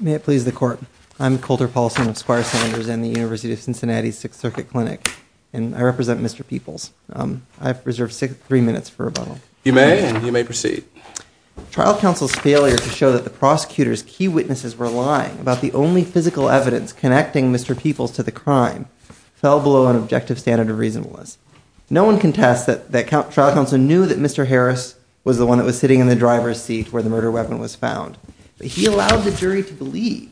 May it please the court I'm Coulter Paulson of Squire Sanders and the University of Cincinnati Sixth Circuit Clinic and I represent Mr. Peoples. I've reserved three minutes for rebuttal. You may and you may proceed. Trial counsel's failure to show that the prosecutor's key witnesses were lying about the only physical evidence connecting Mr. Peoples to the crime fell below an objective standard of reasonableness. No one contests that trial counsel knew that Mr. Harris was the one that was sitting in the driver's seat where the murder weapon was found. He allowed the jury to believe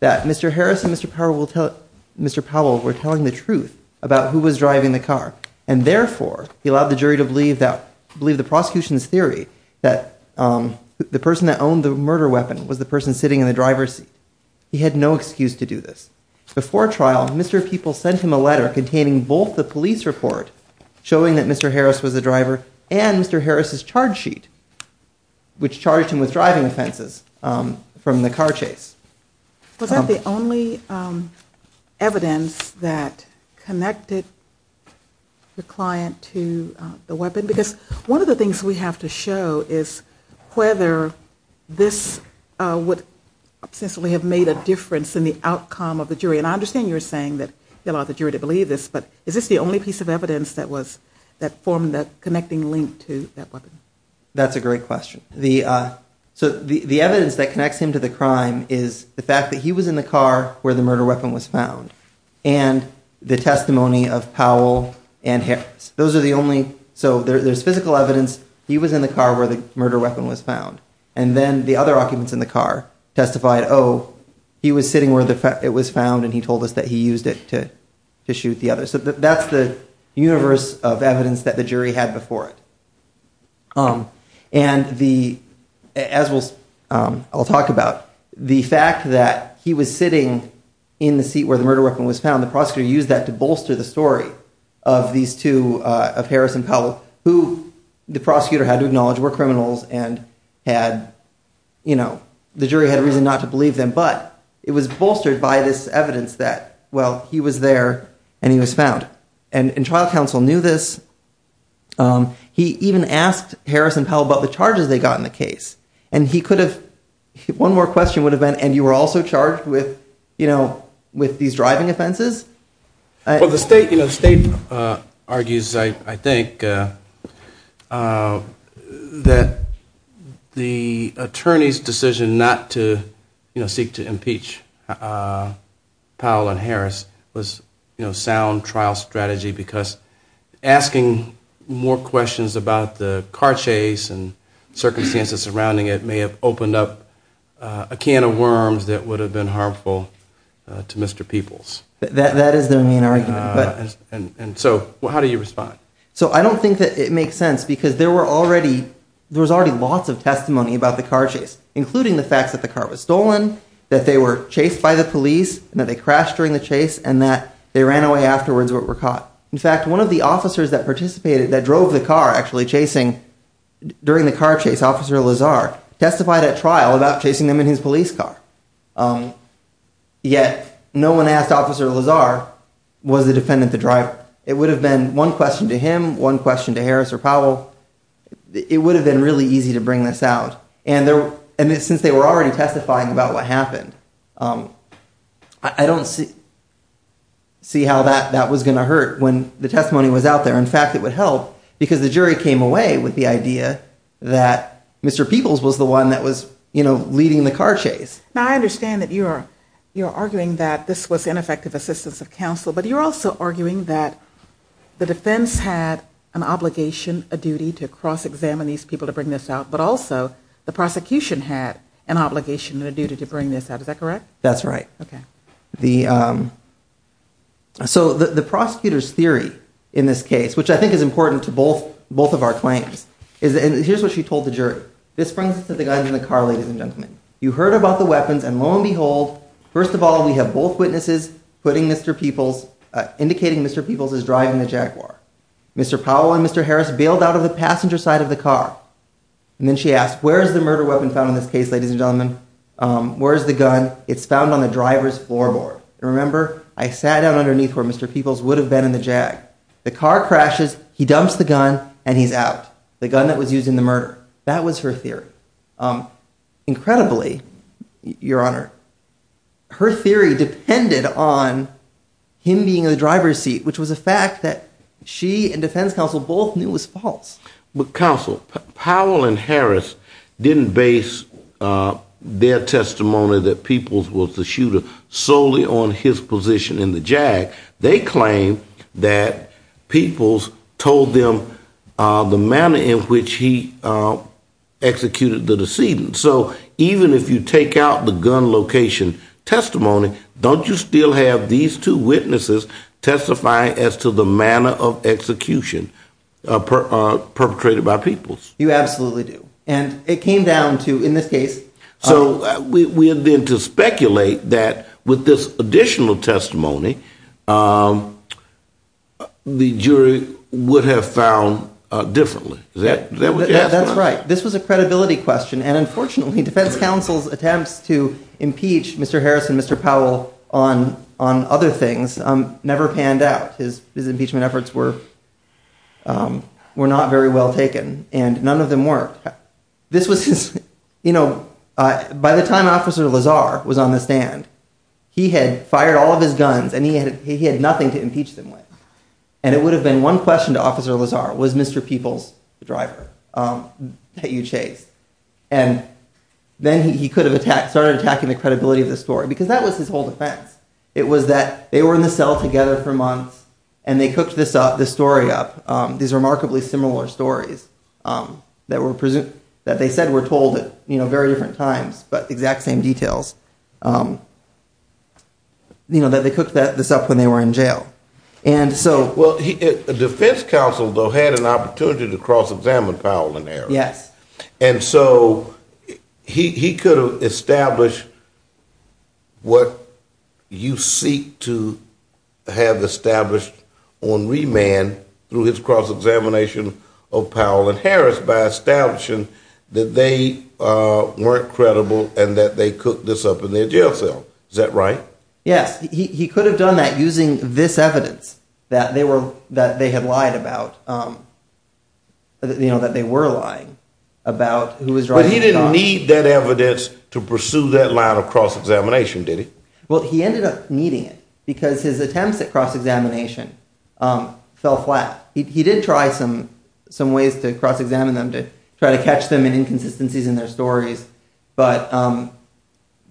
that Mr. Harris and Mr. Powell were telling the truth about who was driving the car and therefore he allowed the jury to believe that the prosecution's theory that the person that owned the murder weapon was the person sitting in the driver's seat. He had no excuse to do this. Before trial Mr. Peoples sent him a letter containing both the police report showing that Mr. Harris was the driver and Mr. Harris's charge sheet which charged him with driving offenses from the car chase. Was that the only evidence that connected the client to the weapon? Because one of the things we have to show is whether this would have made a difference in the outcome of the jury and I understand you're saying that he allowed the jury to believe this but is this the only piece of evidence that was that formed that connecting link to that weapon? That's a great question. The evidence that connects him to the crime is the fact that he was in the car where the murder weapon was found and the testimony of Powell and Harris. Those are the only, so there's physical evidence he was in the car where the murder weapon was found and then the other occupants in the car testified oh he was sitting where the fact it was found and he told us that he used it to shoot the other. So that's the universe of evidence that the jury had before it. And the, as I'll talk about, the fact that he was sitting in the seat where the murder weapon was found the prosecutor used that to bolster the story of these two of Harris and Powell who the prosecutor had to acknowledge were criminals and had you know the jury had a reason not to believe them but it was bolstered by this evidence that well he was there and he was found. And trial counsel knew this. He even asked Harris and Powell about the charges they got in the case and he could have, one more question would have been and you were also charged with you Well the state you know state argues I think that the attorney's decision not to you know seek to impeach Powell and Harris was you know sound trial strategy because asking more questions about the car chase and circumstances surrounding it may have opened up a can of worms that would have been harmful to Mr. Peoples. That is the main argument. And so how do you respond? So I don't think that it makes sense because there were already there was already lots of testimony about the car chase including the facts that the car was stolen that they were chased by the police and that they crashed during the chase and that they ran away afterwards but were caught. In fact one of the officers that participated that drove the car actually chasing during the car chase officer Lazar testified at trial about chasing them in his police car. Yet no one asked officer Lazar was the defendant the driver. It would have been one question to him one question to Harris or Powell. It would have been really easy to bring this out and there and since they were already testifying about what happened I don't see see how that that was gonna hurt when the testimony was out there. In fact it would help because the jury came away with the idea that Mr. Peoples was the one that was you know leading the car chase. Now I don't know if that's an effective assistance of counsel but you're also arguing that the defense had an obligation a duty to cross-examine these people to bring this out but also the prosecution had an obligation and a duty to bring this out. Is that correct? That's right. Okay. The so the prosecutor's theory in this case which I think is important to both both of our claims is and here's what she told the jury. This brings us to the guys in the car ladies and gentlemen. You heard about the weapons and lo and behold first of all we have both witnesses putting Mr. Peoples indicating Mr. Peoples is driving the Jaguar. Mr. Powell and Mr. Harris bailed out of the passenger side of the car and then she asked where is the murder weapon found in this case ladies and gentlemen? Where's the gun? It's found on the driver's floorboard. Remember I sat down underneath where Mr. Peoples would have been in the Jag. The car crashes he dumps the gun and he's out. The gun that was used in the murder. That was her theory. Incredibly your honor her theory depended on him being in the driver's seat which was a fact that she and defense counsel both knew was false. But counsel Powell and Harris didn't base their testimony that Peoples was the shooter solely on his position in the Jag. They claim that Peoples told them the manner in which he executed the decedent. So even if you take out the gun location testimony don't you still have these two witnesses testify as to the manner of execution perpetrated by Peoples? You absolutely do. And it came down to in this case. So we have been to speculate that with this additional testimony the jury would have found differently. That's right. This was a credibility question and unfortunately defense counsel's attempts to impeach Mr. Harris and Mr. Powell on on other things never panned out. His impeachment efforts were were not very well taken and none of them worked. This was you know by the time officer Lazar was on the stand he had fired all of his guns and he had he had nothing to impeach them with. And it would have been one question to officer Lazar was Mr. Peoples the driver that you chased? And then he could have attacked started attacking the credibility of the story because that was his whole defense. It was that they were in the cell together for months and they cooked this up the story up these remarkably similar stories that were present that they said were told it you know very different times but exact same details you know that they cooked that this up when they were in jail. And so well the defense counsel though had an opportunity to cross-examine Powell and Harris. Yes. And so he could have established what you seek to have established on remand through his cross-examination of Powell and Harris by establishing that they weren't credible and that they cooked this up in their jail cell. Is that right? Yes he could have done that using this evidence that they were that they had lied about you know that they were lying about who was driving. But he didn't need that evidence to pursue that line of cross-examination did he? Well he ended up because his attempts at cross-examination fell flat. He did try some some ways to cross-examine them to try to catch them in inconsistencies in their stories but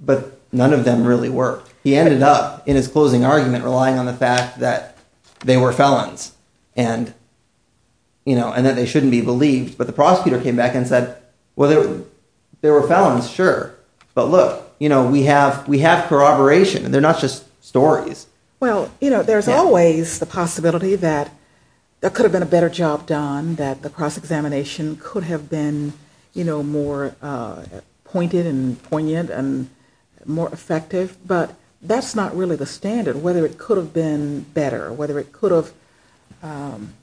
but none of them really worked. He ended up in his closing argument relying on the fact that they were felons and you know and that they shouldn't be believed but the prosecutor came back and said well there were felons sure but look you know we have we have corroboration and they're not just stories. Well you know there's always the possibility that there could have been a better job done that the cross-examination could have been you know more pointed and poignant and more effective but that's not really the standard whether it could have been better whether it could have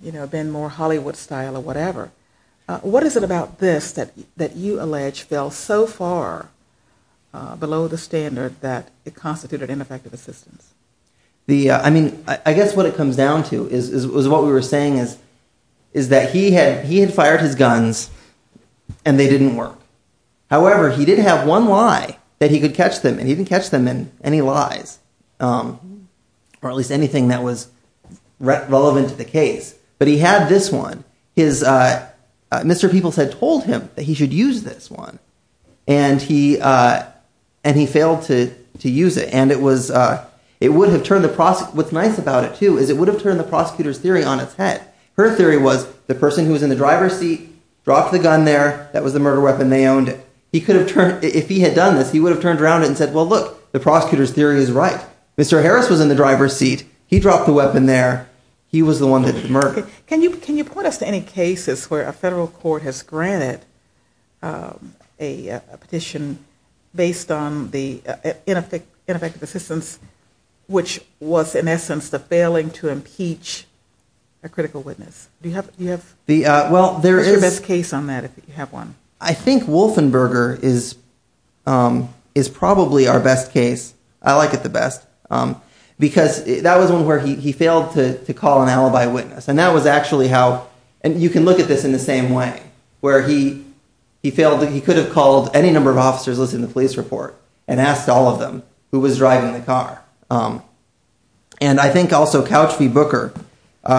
you know been more Hollywood style or whatever. What is it about this that that you allege fell so far below the standard that it constituted ineffective assistance? The I mean I guess what it comes down to is what we were saying is is that he had he had fired his guns and they didn't work however he did have one lie that he could catch them and he didn't catch them in any lies or at least anything that was relevant to the case but he had this one his Mr. Peoples had told him that he should use this one and he and he failed to to use it and it was it would have turned the prosecutor what's nice about it too is it would have turned the prosecutor's theory on its head her theory was the person who was in the driver's seat dropped the gun there that was the murder weapon they owned it he could have turned if he had done this he would have turned around and said well look the prosecutor's theory is right Mr. Harris was in the driver's seat he dropped the weapon there he was the one that murdered. Can you can you point us to any cases where a federal court has assistance which was in essence the failing to impeach a critical witness do you have you have the well there is a best case on that if you have one I think Wolfenberger is is probably our best case I like it the best because that was one where he failed to call an alibi witness and that was actually how and you can look at this in the same way where he he failed that he could have called any number of officers listed in the police report and asked all of them who was driving the car and I think also Couch v. Booker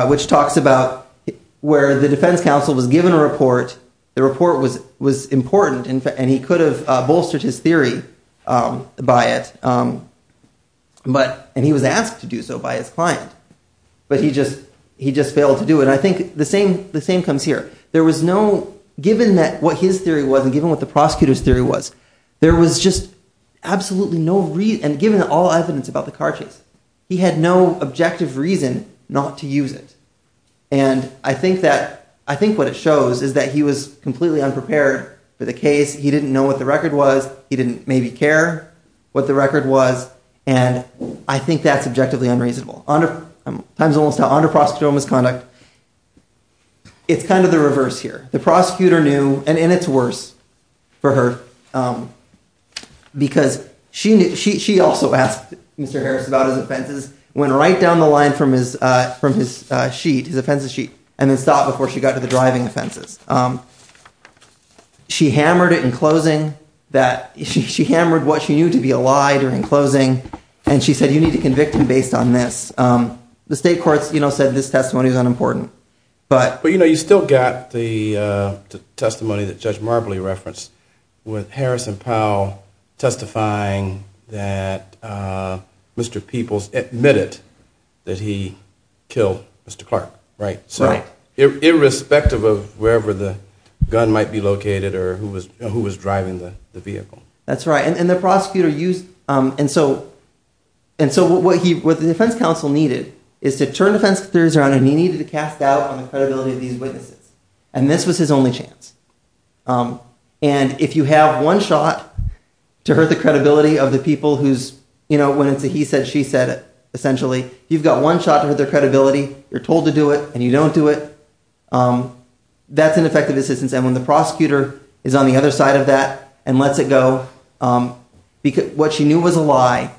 which talks about where the defense counsel was given a report the report was was important and he could have bolstered his theory by it but and he was asked to do so by his client but he just he just failed to do it I think the same the same comes here there was no given that what his theory wasn't given what the prosecutor's there was just absolutely no read and given all evidence about the car chase he had no objective reason not to use it and I think that I think what it shows is that he was completely unprepared for the case he didn't know what the record was he didn't maybe care what the record was and I think that's objectively unreasonable honor I'm times almost how under prosecutorial misconduct it's kind of the reverse here the prosecutor knew and in its worse for her because she knew she also asked mr. Harris about his offenses went right down the line from his from his sheet his offenses sheet and then stop before she got to the driving offenses she hammered it in closing that she hammered what she knew to be a lie during closing and she said you need to convict him based on this the state courts you know said this testimony is unimportant but but you know you still got the testimony that judge Marbley referenced with Harrison Powell testifying that mr. Peoples admitted that he killed mr. Clark right so irrespective of wherever the gun might be located or who was who was driving the vehicle that's right and the prosecutor used and so and so what he with the defense counsel needed is to turn defense theories around and he needed to cast doubt on the credibility of these witnesses and this was his only chance and if you have one shot to hurt the credibility of the people who's you know when it's a he said she said it essentially you've got one shot at their credibility you're told to do it and you don't do it that's an effective assistance and when the prosecutor is on the other side of that and lets it go because what she knew was a lie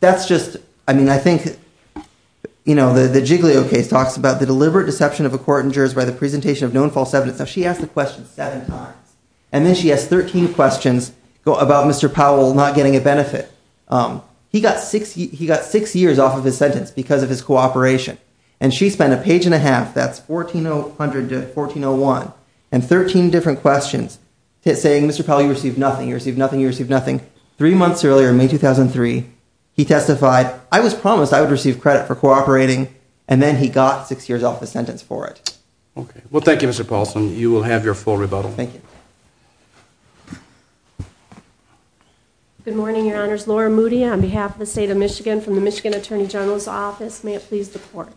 that's just I mean I think you know the the legal case talks about the deliberate deception of a court in jurors by the presentation of known false evidence now she asked the question seven times and then she has 13 questions go about mr. Powell not getting a benefit he got six he got six years off of his sentence because of his cooperation and she spent a page and a half that's 1400 to 1401 and 13 different questions saying mr. Powell you receive nothing you receive nothing you receive nothing three months earlier in May 2003 he testified I was promised I would receive credit for and then he got six years off the sentence for it okay well thank you mr. Paulson you will have your full rebuttal thank you good morning your honors Laura Moody on behalf of the state of Michigan from the Michigan Attorney General's office may it please the court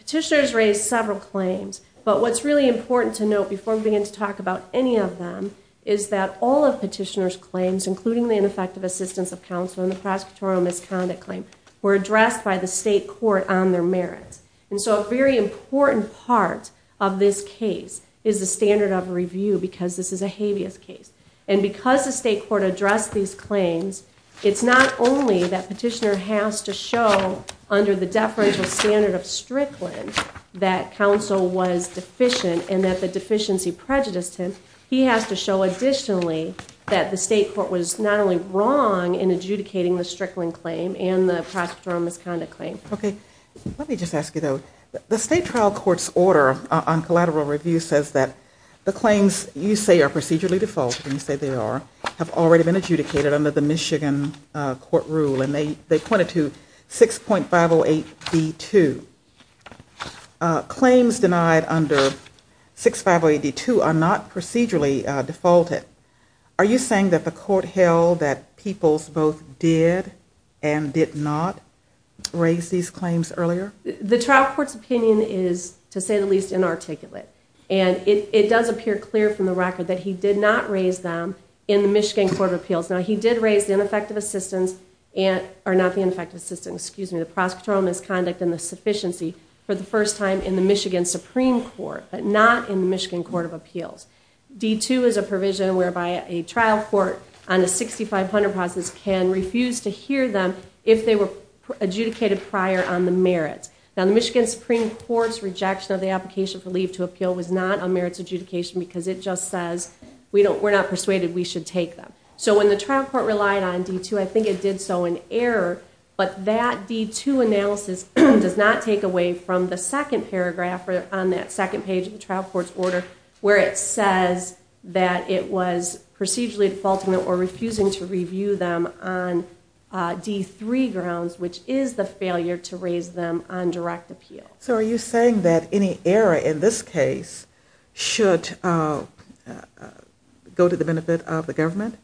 petitioners raised several claims but what's really important to note before we begin to talk about any of them is that all of petitioners claims including the ineffective assistance of counsel in the prosecutorial misconduct claim were addressed by the state court on their merits and so a very important part of this case is the standard of review because this is a habeas case and because the state court addressed these claims it's not only that petitioner has to show under the deferential standard of Strickland that counsel was deficient and that the deficiency prejudiced him he has to show additionally that the in adjudicating the Strickland claim and the prospector on this kind of claim okay let me just ask you though the state trial courts order on collateral review says that the claims you say are procedurally defaulted and you say they are have already been adjudicated under the Michigan court rule and they they pointed to six point five oh eight b2 claims denied under six five way d2 are not procedurally defaulted are you saying that the court held that people's both did and did not raise these claims earlier the trial courts opinion is to say the least inarticulate and it does appear clear from the record that he did not raise them in the Michigan Court of Appeals now he did raise the ineffective assistance and are not the ineffective system excuse me the prosecutorial misconduct and the sufficiency for the first time in the Michigan Supreme Court but not in Michigan Court of Appeals d2 is a provision whereby a trial court on the 6500 process can refuse to hear them if they were adjudicated prior on the merits now the Michigan Supreme Court's rejection of the application for leave to appeal was not on merits adjudication because it just says we don't we're not persuaded we should take them so when the trial court relied on d2 I think it did so in error but that d2 analysis does not take away from the second paragraph on that second page of the trial court's order where it says that it was procedurally defaulting or refusing to review them on d3 grounds which is the failure to raise them on direct appeal so are you saying that any error in this case should go to the benefit of the government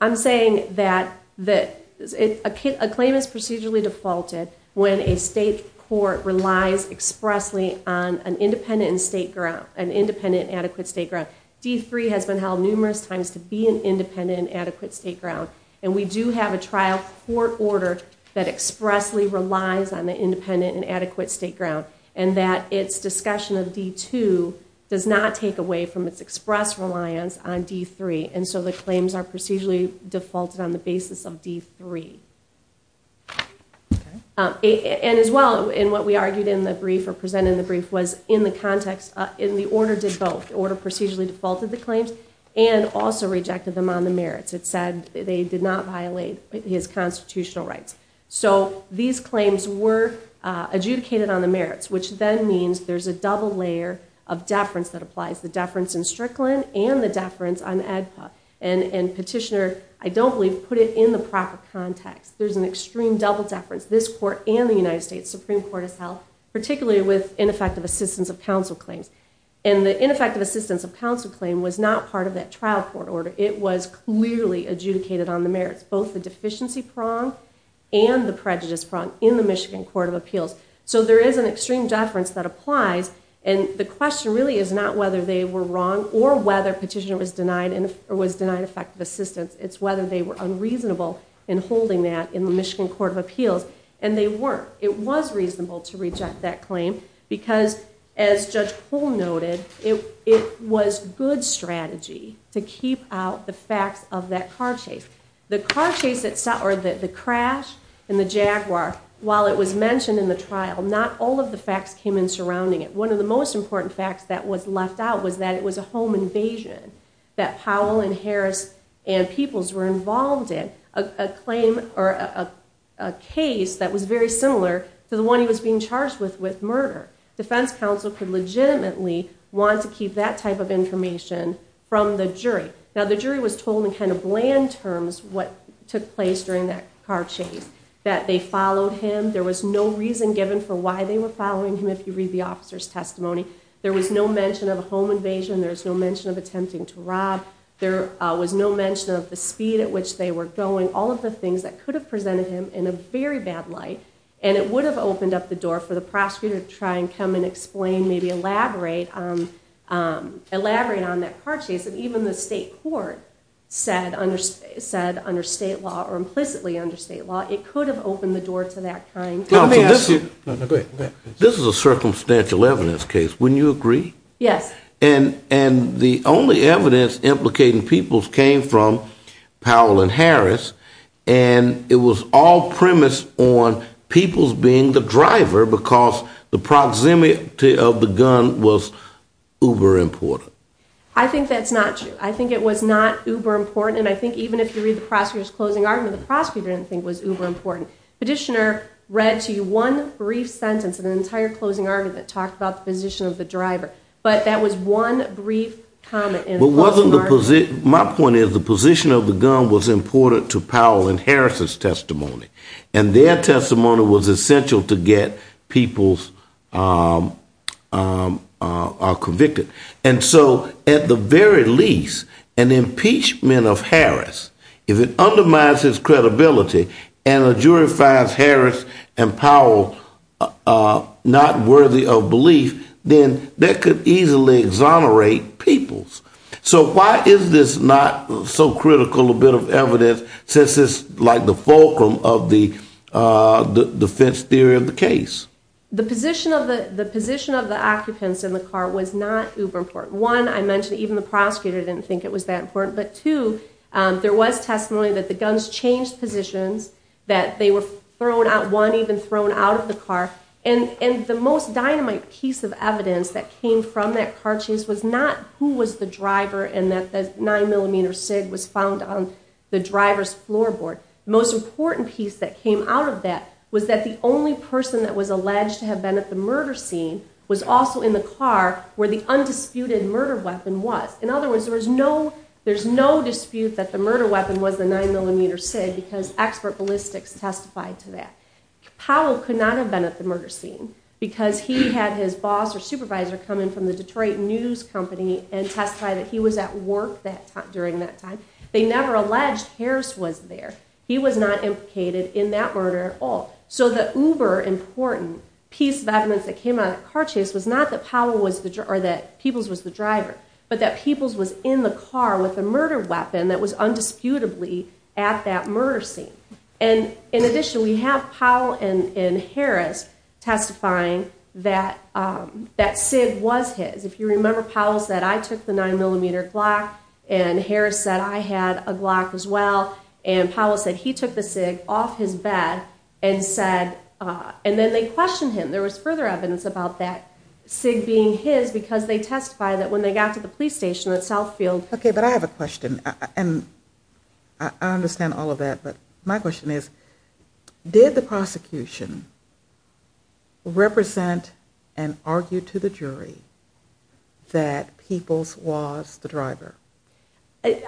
I'm saying that that a kid a claim is procedurally defaulted when a state court relies expressly on an independent state ground an independent adequate state ground d3 has been held numerous times to be an independent adequate state ground and we do have a trial court order that expressly relies on the independent and adequate state ground and that its discussion of d2 does not take away from its express reliance on d3 and so the claims are procedurally defaulted on the basis of d3 and as well in what we argued in the brief or presented in the brief was in the context in the order did both order procedurally defaulted the claims and also rejected them on the merits it said they did not violate his constitutional rights so these claims were adjudicated on the merits which then means there's a double layer of deference that applies the deference in Strickland and the deference on ADPA and and petitioner I don't believe put it in the proper context there's an extreme double deference this court and the United States Supreme Court itself particularly with ineffective assistance of counsel claims and the ineffective assistance of counsel claim was not part of that trial court order it was clearly adjudicated on the merits both the deficiency prong and the prejudice prong in the Michigan Court of Appeals so there is an extreme deference that applies and the question really is not whether they were wrong or whether petitioner was denied and it was denied effective assistance it's whether they were unreasonable in holding that in the Michigan Court of Appeals and they weren't it was reasonable to reject that claim because as Judge Cole noted it it was good strategy to keep out the facts of that car chase the car chase itself or that the crash and the Jaguar while it was mentioned in the trial not all of the facts that was left out was that it was a home invasion that Powell and Harris and peoples were involved in a claim or a case that was very similar to the one he was being charged with with murder defense counsel could legitimately want to keep that type of information from the jury now the jury was told in kind of bland terms what took place during that car chase that they followed him there was no reason given for why they were following him if you read the there was no mention of a home invasion there's no mention of attempting to rob there was no mention of the speed at which they were going all of the things that could have presented him in a very bad light and it would have opened up the door for the prosecutor to try and come and explain maybe elaborate elaborate on that car chase that even the state court said under said under state law or implicitly under state law it could have opened the door to that this is a circumstantial evidence case when you agree yes and and the only evidence implicating people's came from Powell and Harris and it was all premised on people's being the driver because the proximity of the gun was uber important I think that's not true I think it was not uber important and I think even if you read the prosecutors closing argument the prosecutor didn't was uber important petitioner read to you one brief sentence of an entire closing argument talked about the position of the driver but that was one brief comment and wasn't the position my point is the position of the gun was important to Powell and Harris's testimony and their testimony was essential to get people's convicted and so at the very least an impeachment of Harris and Powell not worthy of belief then that could easily exonerate people's so why is this not so critical a bit of evidence since it's like the fulcrum of the defense theory of the case the position of the the position of the occupants in the car was not uber important one I mentioned even the prosecutor didn't think it was that important but two there was testimony that the guns changed positions that they were thrown out one even thrown out of the car and and the most dynamite piece of evidence that came from that car chase was not who was the driver and that the nine millimeter sig was found on the drivers floorboard most important piece that came out of that was that the only person that was alleged to have been at the murder scene was also in the car where the undisputed murder weapon was in other words there was no there's no dispute that the murder weapon was the nine millimeter sig because expert ballistics testified to that Powell could not have been at the murder scene because he had his boss or supervisor come in from the Detroit news company and testify that he was at work that time during that time they never alleged Harris was there he was not implicated in that murder at all so the uber important piece of evidence that came out of car chase was not that Powell was the driver that people's was the driver but that people's was in the car with a murder weapon that was undisputably at that murder scene and in addition we have Powell and in Harris testifying that that sig was his if you remember Powell said I took the nine millimeter Glock and Harris said I had a Glock as well and Powell said he took the sig off his bed and said and then they questioned him there was further evidence about that sig being his because they testify that when they got to the police station at Southfield okay but I have a question and I understand all of that but my question is did the prosecution represent and argue to the jury that people's was the driver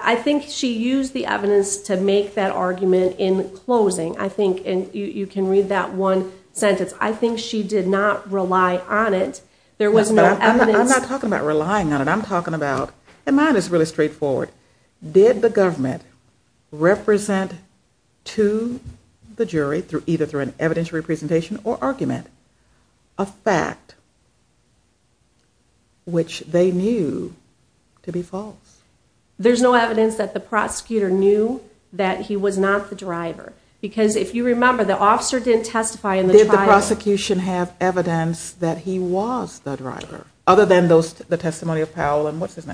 I think she used the evidence to make that argument in closing I think and you can read that one sentence I think she did not rely on it there was no I'm not did the government represent to the jury through either through an evidentiary presentation or argument a fact which they knew to be false there's no evidence that the prosecutor knew that he was not the driver because if you remember the officer didn't testify in the prosecution have evidence that he was the driver other than those the testimony of Powell and what's his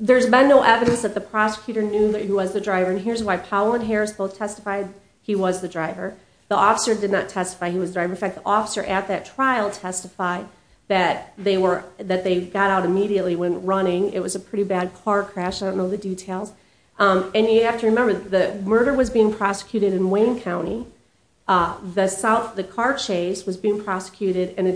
there's been no evidence that the prosecutor knew that he was the driver and here's why Powell and Harris both testified he was the driver the officer did not testify he was driving fact the officer at that trial testified that they were that they got out immediately when running it was a pretty bad car crash I don't know the details and you have to remember that murder was being prosecuted in Wayne County the South the car chase was being prosecuted in a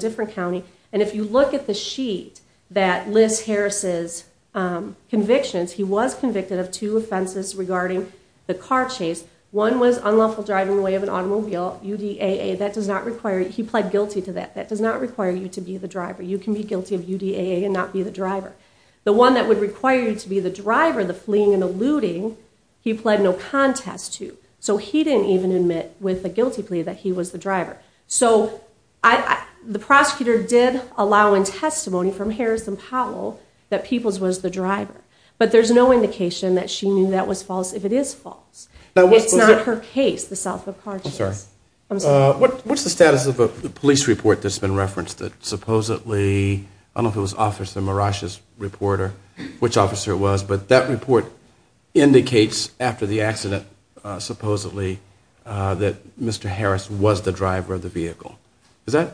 convictions he was convicted of two offenses regarding the car chase one was unlawful driving away of an automobile UDAA that does not require he pled guilty to that that does not require you to be the driver you can be guilty of UDAA and not be the driver the one that would require you to be the driver the fleeing and eluding he pled no contest to so he didn't even admit with a guilty plea that he was the driver so I the prosecutor did allow in testimony from Harris and Powell that people's was the driver but there's no indication that she knew that was false if it is false now it's not her case the South of car chase I'm sorry what what's the status of a police report that's been referenced that supposedly I don't know if it was officer mirages reporter which officer was but that report indicates after the accident supposedly that mr. was the driver of the vehicle is that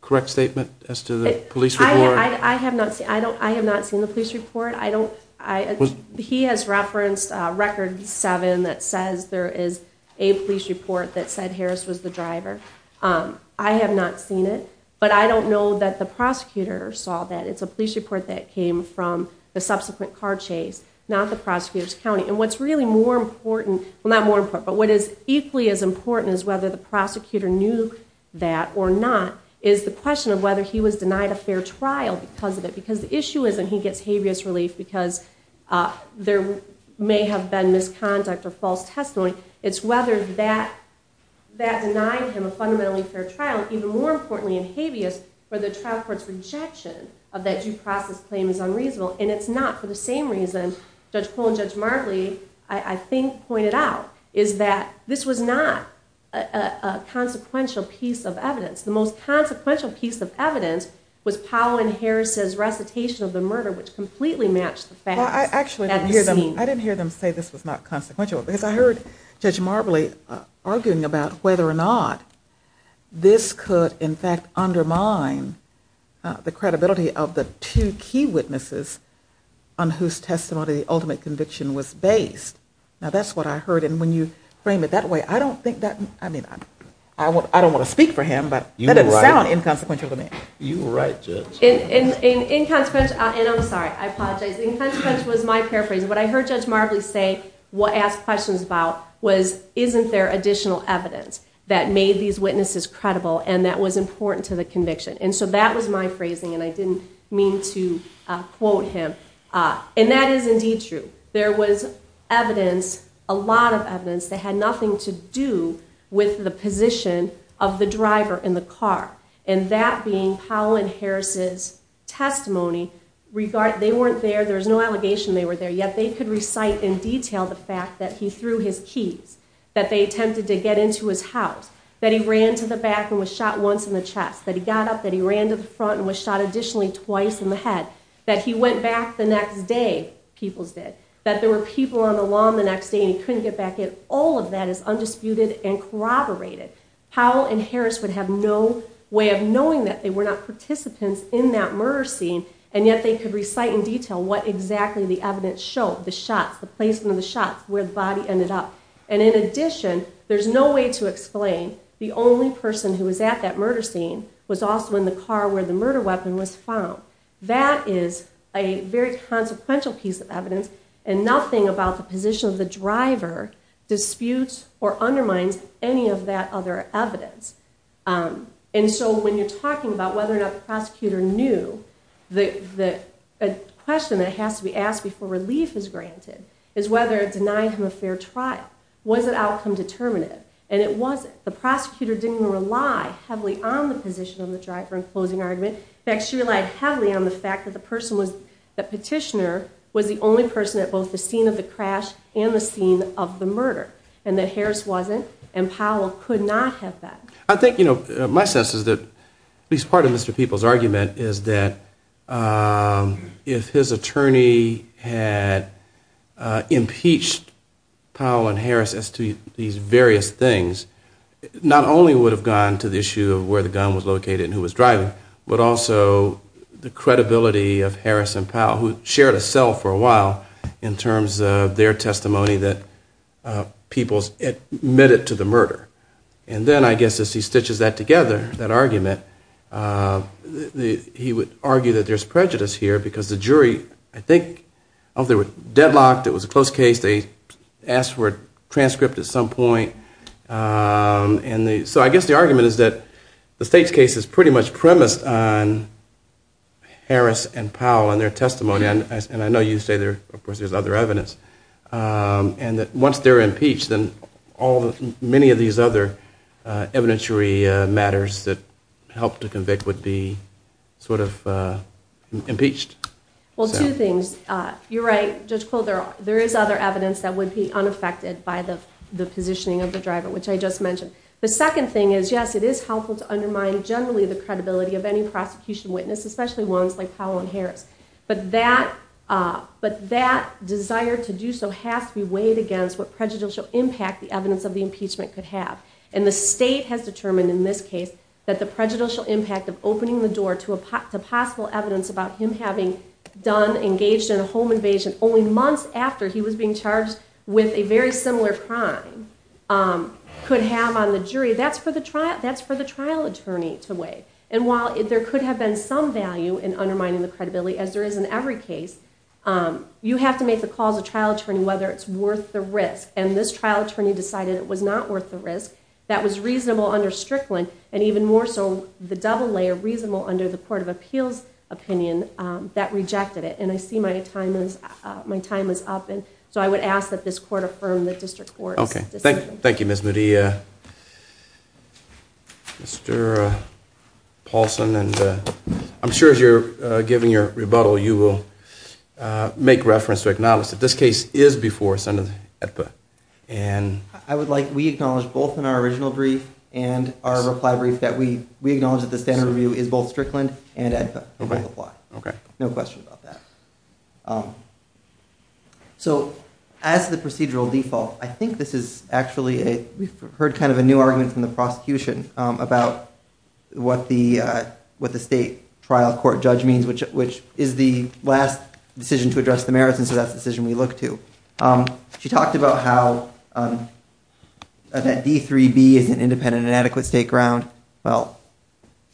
correct statement I have not seen the police report I don't I he has referenced record seven that says there is a police report that said Harris was the driver I have not seen it but I don't know that the prosecutor saw that it's a police report that came from the subsequent car chase not the prosecutors County and what's really more important not more but what is equally as important is whether the prosecutor knew that or not is the question of whether he was denied a fair trial because of it because the issue is and he gets habeas relief because there may have been misconduct or false testimony it's whether that that denied him a fundamentally fair trial even more importantly in habeas for the trial courts rejection of that due process claim is unreasonable and it's not for same reason I think pointed out is that this was not a consequential piece of evidence the most consequential piece of evidence was Powell and Harris's recitation of the murder which completely matched the fact I actually didn't hear them I didn't hear them say this was not consequential because I heard judge Marbley arguing about whether or not this could in fact the ultimate conviction was based now that's what I heard and when you frame it that way I don't think that I mean I what I don't want to speak for him but you know I'm inconsequential to me you were right and I'm sorry I was my paraphrase what I heard judge Marbley say what asked questions about was isn't there additional evidence that made these witnesses credible and that was important to the conviction and so that was my phrasing and I didn't mean to quote him and that is indeed true there was evidence a lot of evidence that had nothing to do with the position of the driver in the car and that being Powell and Harris's testimony regard they weren't there there's no allegation they were there yet they could recite in detail the fact that he threw his keys that they attempted to get into his house that he ran to the back and was shot once in the chest that he got up that he ran to the front and was shot additionally twice in the head that he went back the next day people's dead that there were people on the lawn the next day he couldn't get back in all of that is undisputed and corroborated Powell and Harris would have no way of knowing that they were not participants in that murder scene and yet they could recite in detail what exactly the evidence showed the shots the placement of the shots where the body ended up and in addition there's no way to explain the only person who was at that murder scene was also in the car where the murder weapon was found that is a very consequential piece of evidence and nothing about the position of the driver disputes or undermines any of that other evidence and so when you're talking about whether or not the prosecutor knew that the question that has to be asked before relief is granted is whether it denied him a fair trial was it outcome determinative and it wasn't the prosecutor didn't rely heavily on the position of the driver and closing argument actually relied heavily on the fact that the person was the petitioner was the only person at both the scene of the crash and the scene of the murder and that Harris wasn't and Powell could not have that I think you know my sense is that at least part of mr. people's argument is that if his attorney had impeached Powell and Harris as to these various things not only would have gone to the issue of where the gun was located and who was driving but also the credibility of Harris and Powell who shared a cell for a while in terms of their testimony that people's admitted to the murder and then I guess as he stitches that together that argument he would argue that there's prejudice here because the jury I think of there were deadlocked it was a close case they asked for a transcript at some point and so I guess the argument is that the state's case is pretty much premised on Harris and Powell and their testimony and I know you say there of course there's other evidence and that once they're impeached and all the many of these other evidentiary matters that helped to convict would be sort of impeached well two things you're right there is other evidence that would be unaffected by the the positioning of the driver which I just mentioned the second thing is yes it is helpful to undermine generally the credibility of any prosecution witness especially ones like Powell and Harris but that but that desire to do so has to be weighed against what prejudicial impact the evidence of the impeachment could have and the state has determined in this case that the prejudicial impact of opening the door to a possible evidence about him having done engaged in a home invasion only months after he was being charged with a very similar crime could have on the jury that's for the trial that's for the trial attorney to weigh and while if there could have been some value in undermining the credibility as there is in every case you have to make the calls a trial attorney whether it's worth the risk and this trial attorney decided it was not worth the risk that was reasonable under Strickland and even more so the double layer reasonable under the Court of Appeals opinion that rejected it and I see my time is my time is up and so I would ask that this court affirm the district court okay thank you thank you miss Maria mr. Paulson and I'm sure as you're giving your rebuttal you will make reference to acknowledge that this case is before Senate and I would like we acknowledge both in our original brief and our reply brief that we we acknowledge that the standard review is both Strickland and okay no question about that so as the procedural default I think this is actually a we've heard kind of a new argument from the prosecution about what the what the state trial court judge means which which is the last decision to address the merits and so that's decision we look to she talked about how that d3b is an independent and adequate state ground well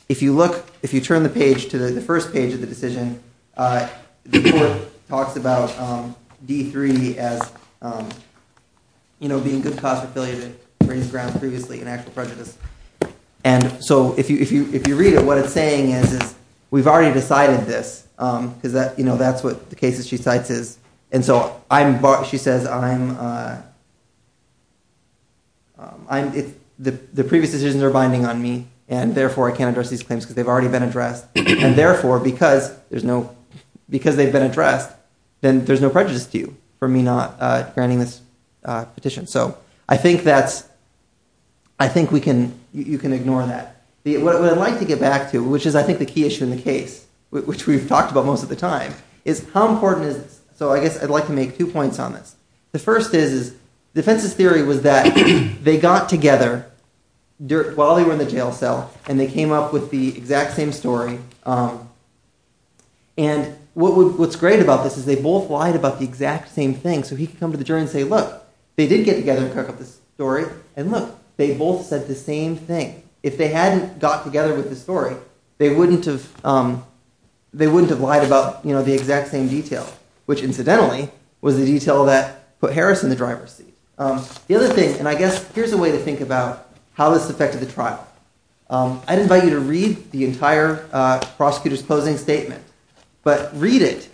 if you look if you turn the page to the first page of the decision the court talks about d3 as you know being good cause for failure to raise ground previously in actual prejudice and so if you if you if you read it what it's saying is we've already decided this because that you know that's what the cases she cites is and so I'm bought she says I'm I'm the the previous decisions are binding on me and therefore I can address these claims they've already been addressed and therefore because there's no because they've been addressed then there's no prejudice to you for me not granting this petition so I think that's I think we can you can ignore that the way I like to get back to which is I think the key issue in the case which we've talked about most of the time is how important is so I guess I'd like to make two points on this the first is defense's theory was that they got together while they were in the jail cell and they came up with the exact same story and what's great about this is they both lied about the exact same thing so he can come to the jury and say look they did get together and cook up this story and look they both said the same thing if they hadn't got together with the story they wouldn't have they wouldn't have you know the exact same detail which incidentally was the detail that put Harrison the driver's seat the other thing and I guess here's a way to think about how this affected the trial I'd invite you to read the entire prosecutors closing statement but read it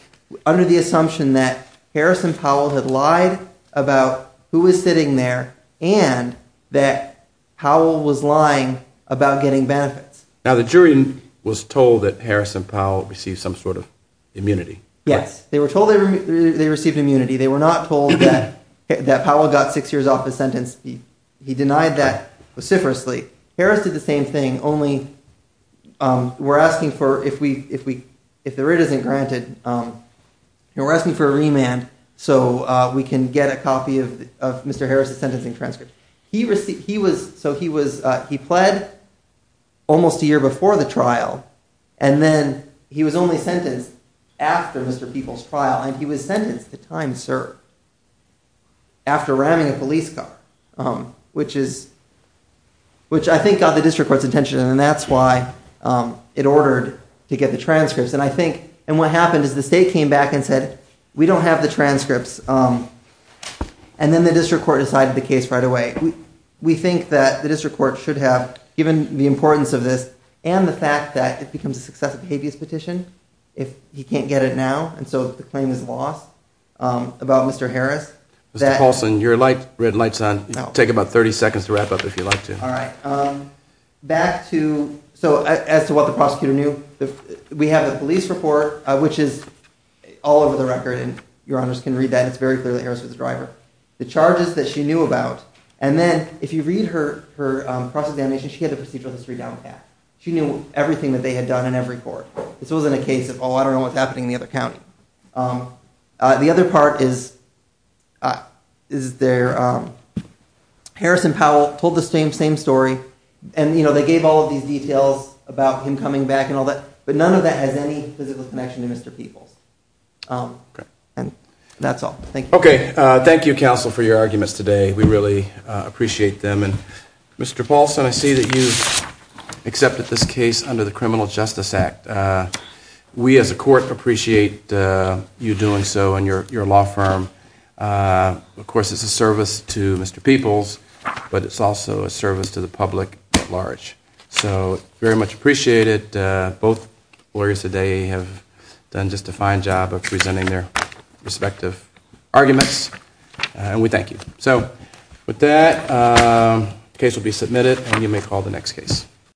under the assumption that Harrison Powell had lied about who was sitting there and that Powell was lying about getting benefits now the jury was told that Harrison Powell received some sort of immunity yes they were told they received immunity they were not told that that Powell got six years off his sentence he denied that vociferously Harris did the same thing only we're asking for if we if we if the rate isn't granted we're asking for a remand so we can get a copy of mr. Harris's sentencing transcript he received he was so he was he pled almost a year before the trial and then he was only sentenced after mr. people's trial and he was sentenced to time sir after ramming a police car um which is which I think got the district courts attention and that's why it ordered to get the transcripts and I think and what happened is the state came back and said we don't have the transcripts and then the district court decided the case right away we think that the district court should have given the importance of this and the fact that it becomes a successive habeas petition if he can't get it now and so the claim is lost about mr. Harris that also in your light red lights on take about 30 seconds to wrap up if you like to all right back to so as to what the prosecutor knew we have a police report which is all over the record and your honors can read that it's very clear that Harris was the driver the charges that she knew about and then if you read her her she knew everything that they had done in every court this wasn't a case of all I don't know what's happening in the other County the other part is is there Harrison Powell told the same same story and you know they gave all of these details about him coming back and all that but none of that has any connection to mr. people's and that's all thank you okay thank you counsel for your I see that you accepted this case under the Criminal Justice Act we as a court appreciate you doing so and your law firm of course it's a service to mr. people's but it's also a service to the public at large so very much appreciated both lawyers today have done just a fine job of presenting their respective arguments and we thank you so with that case will be submitted and you may call the next case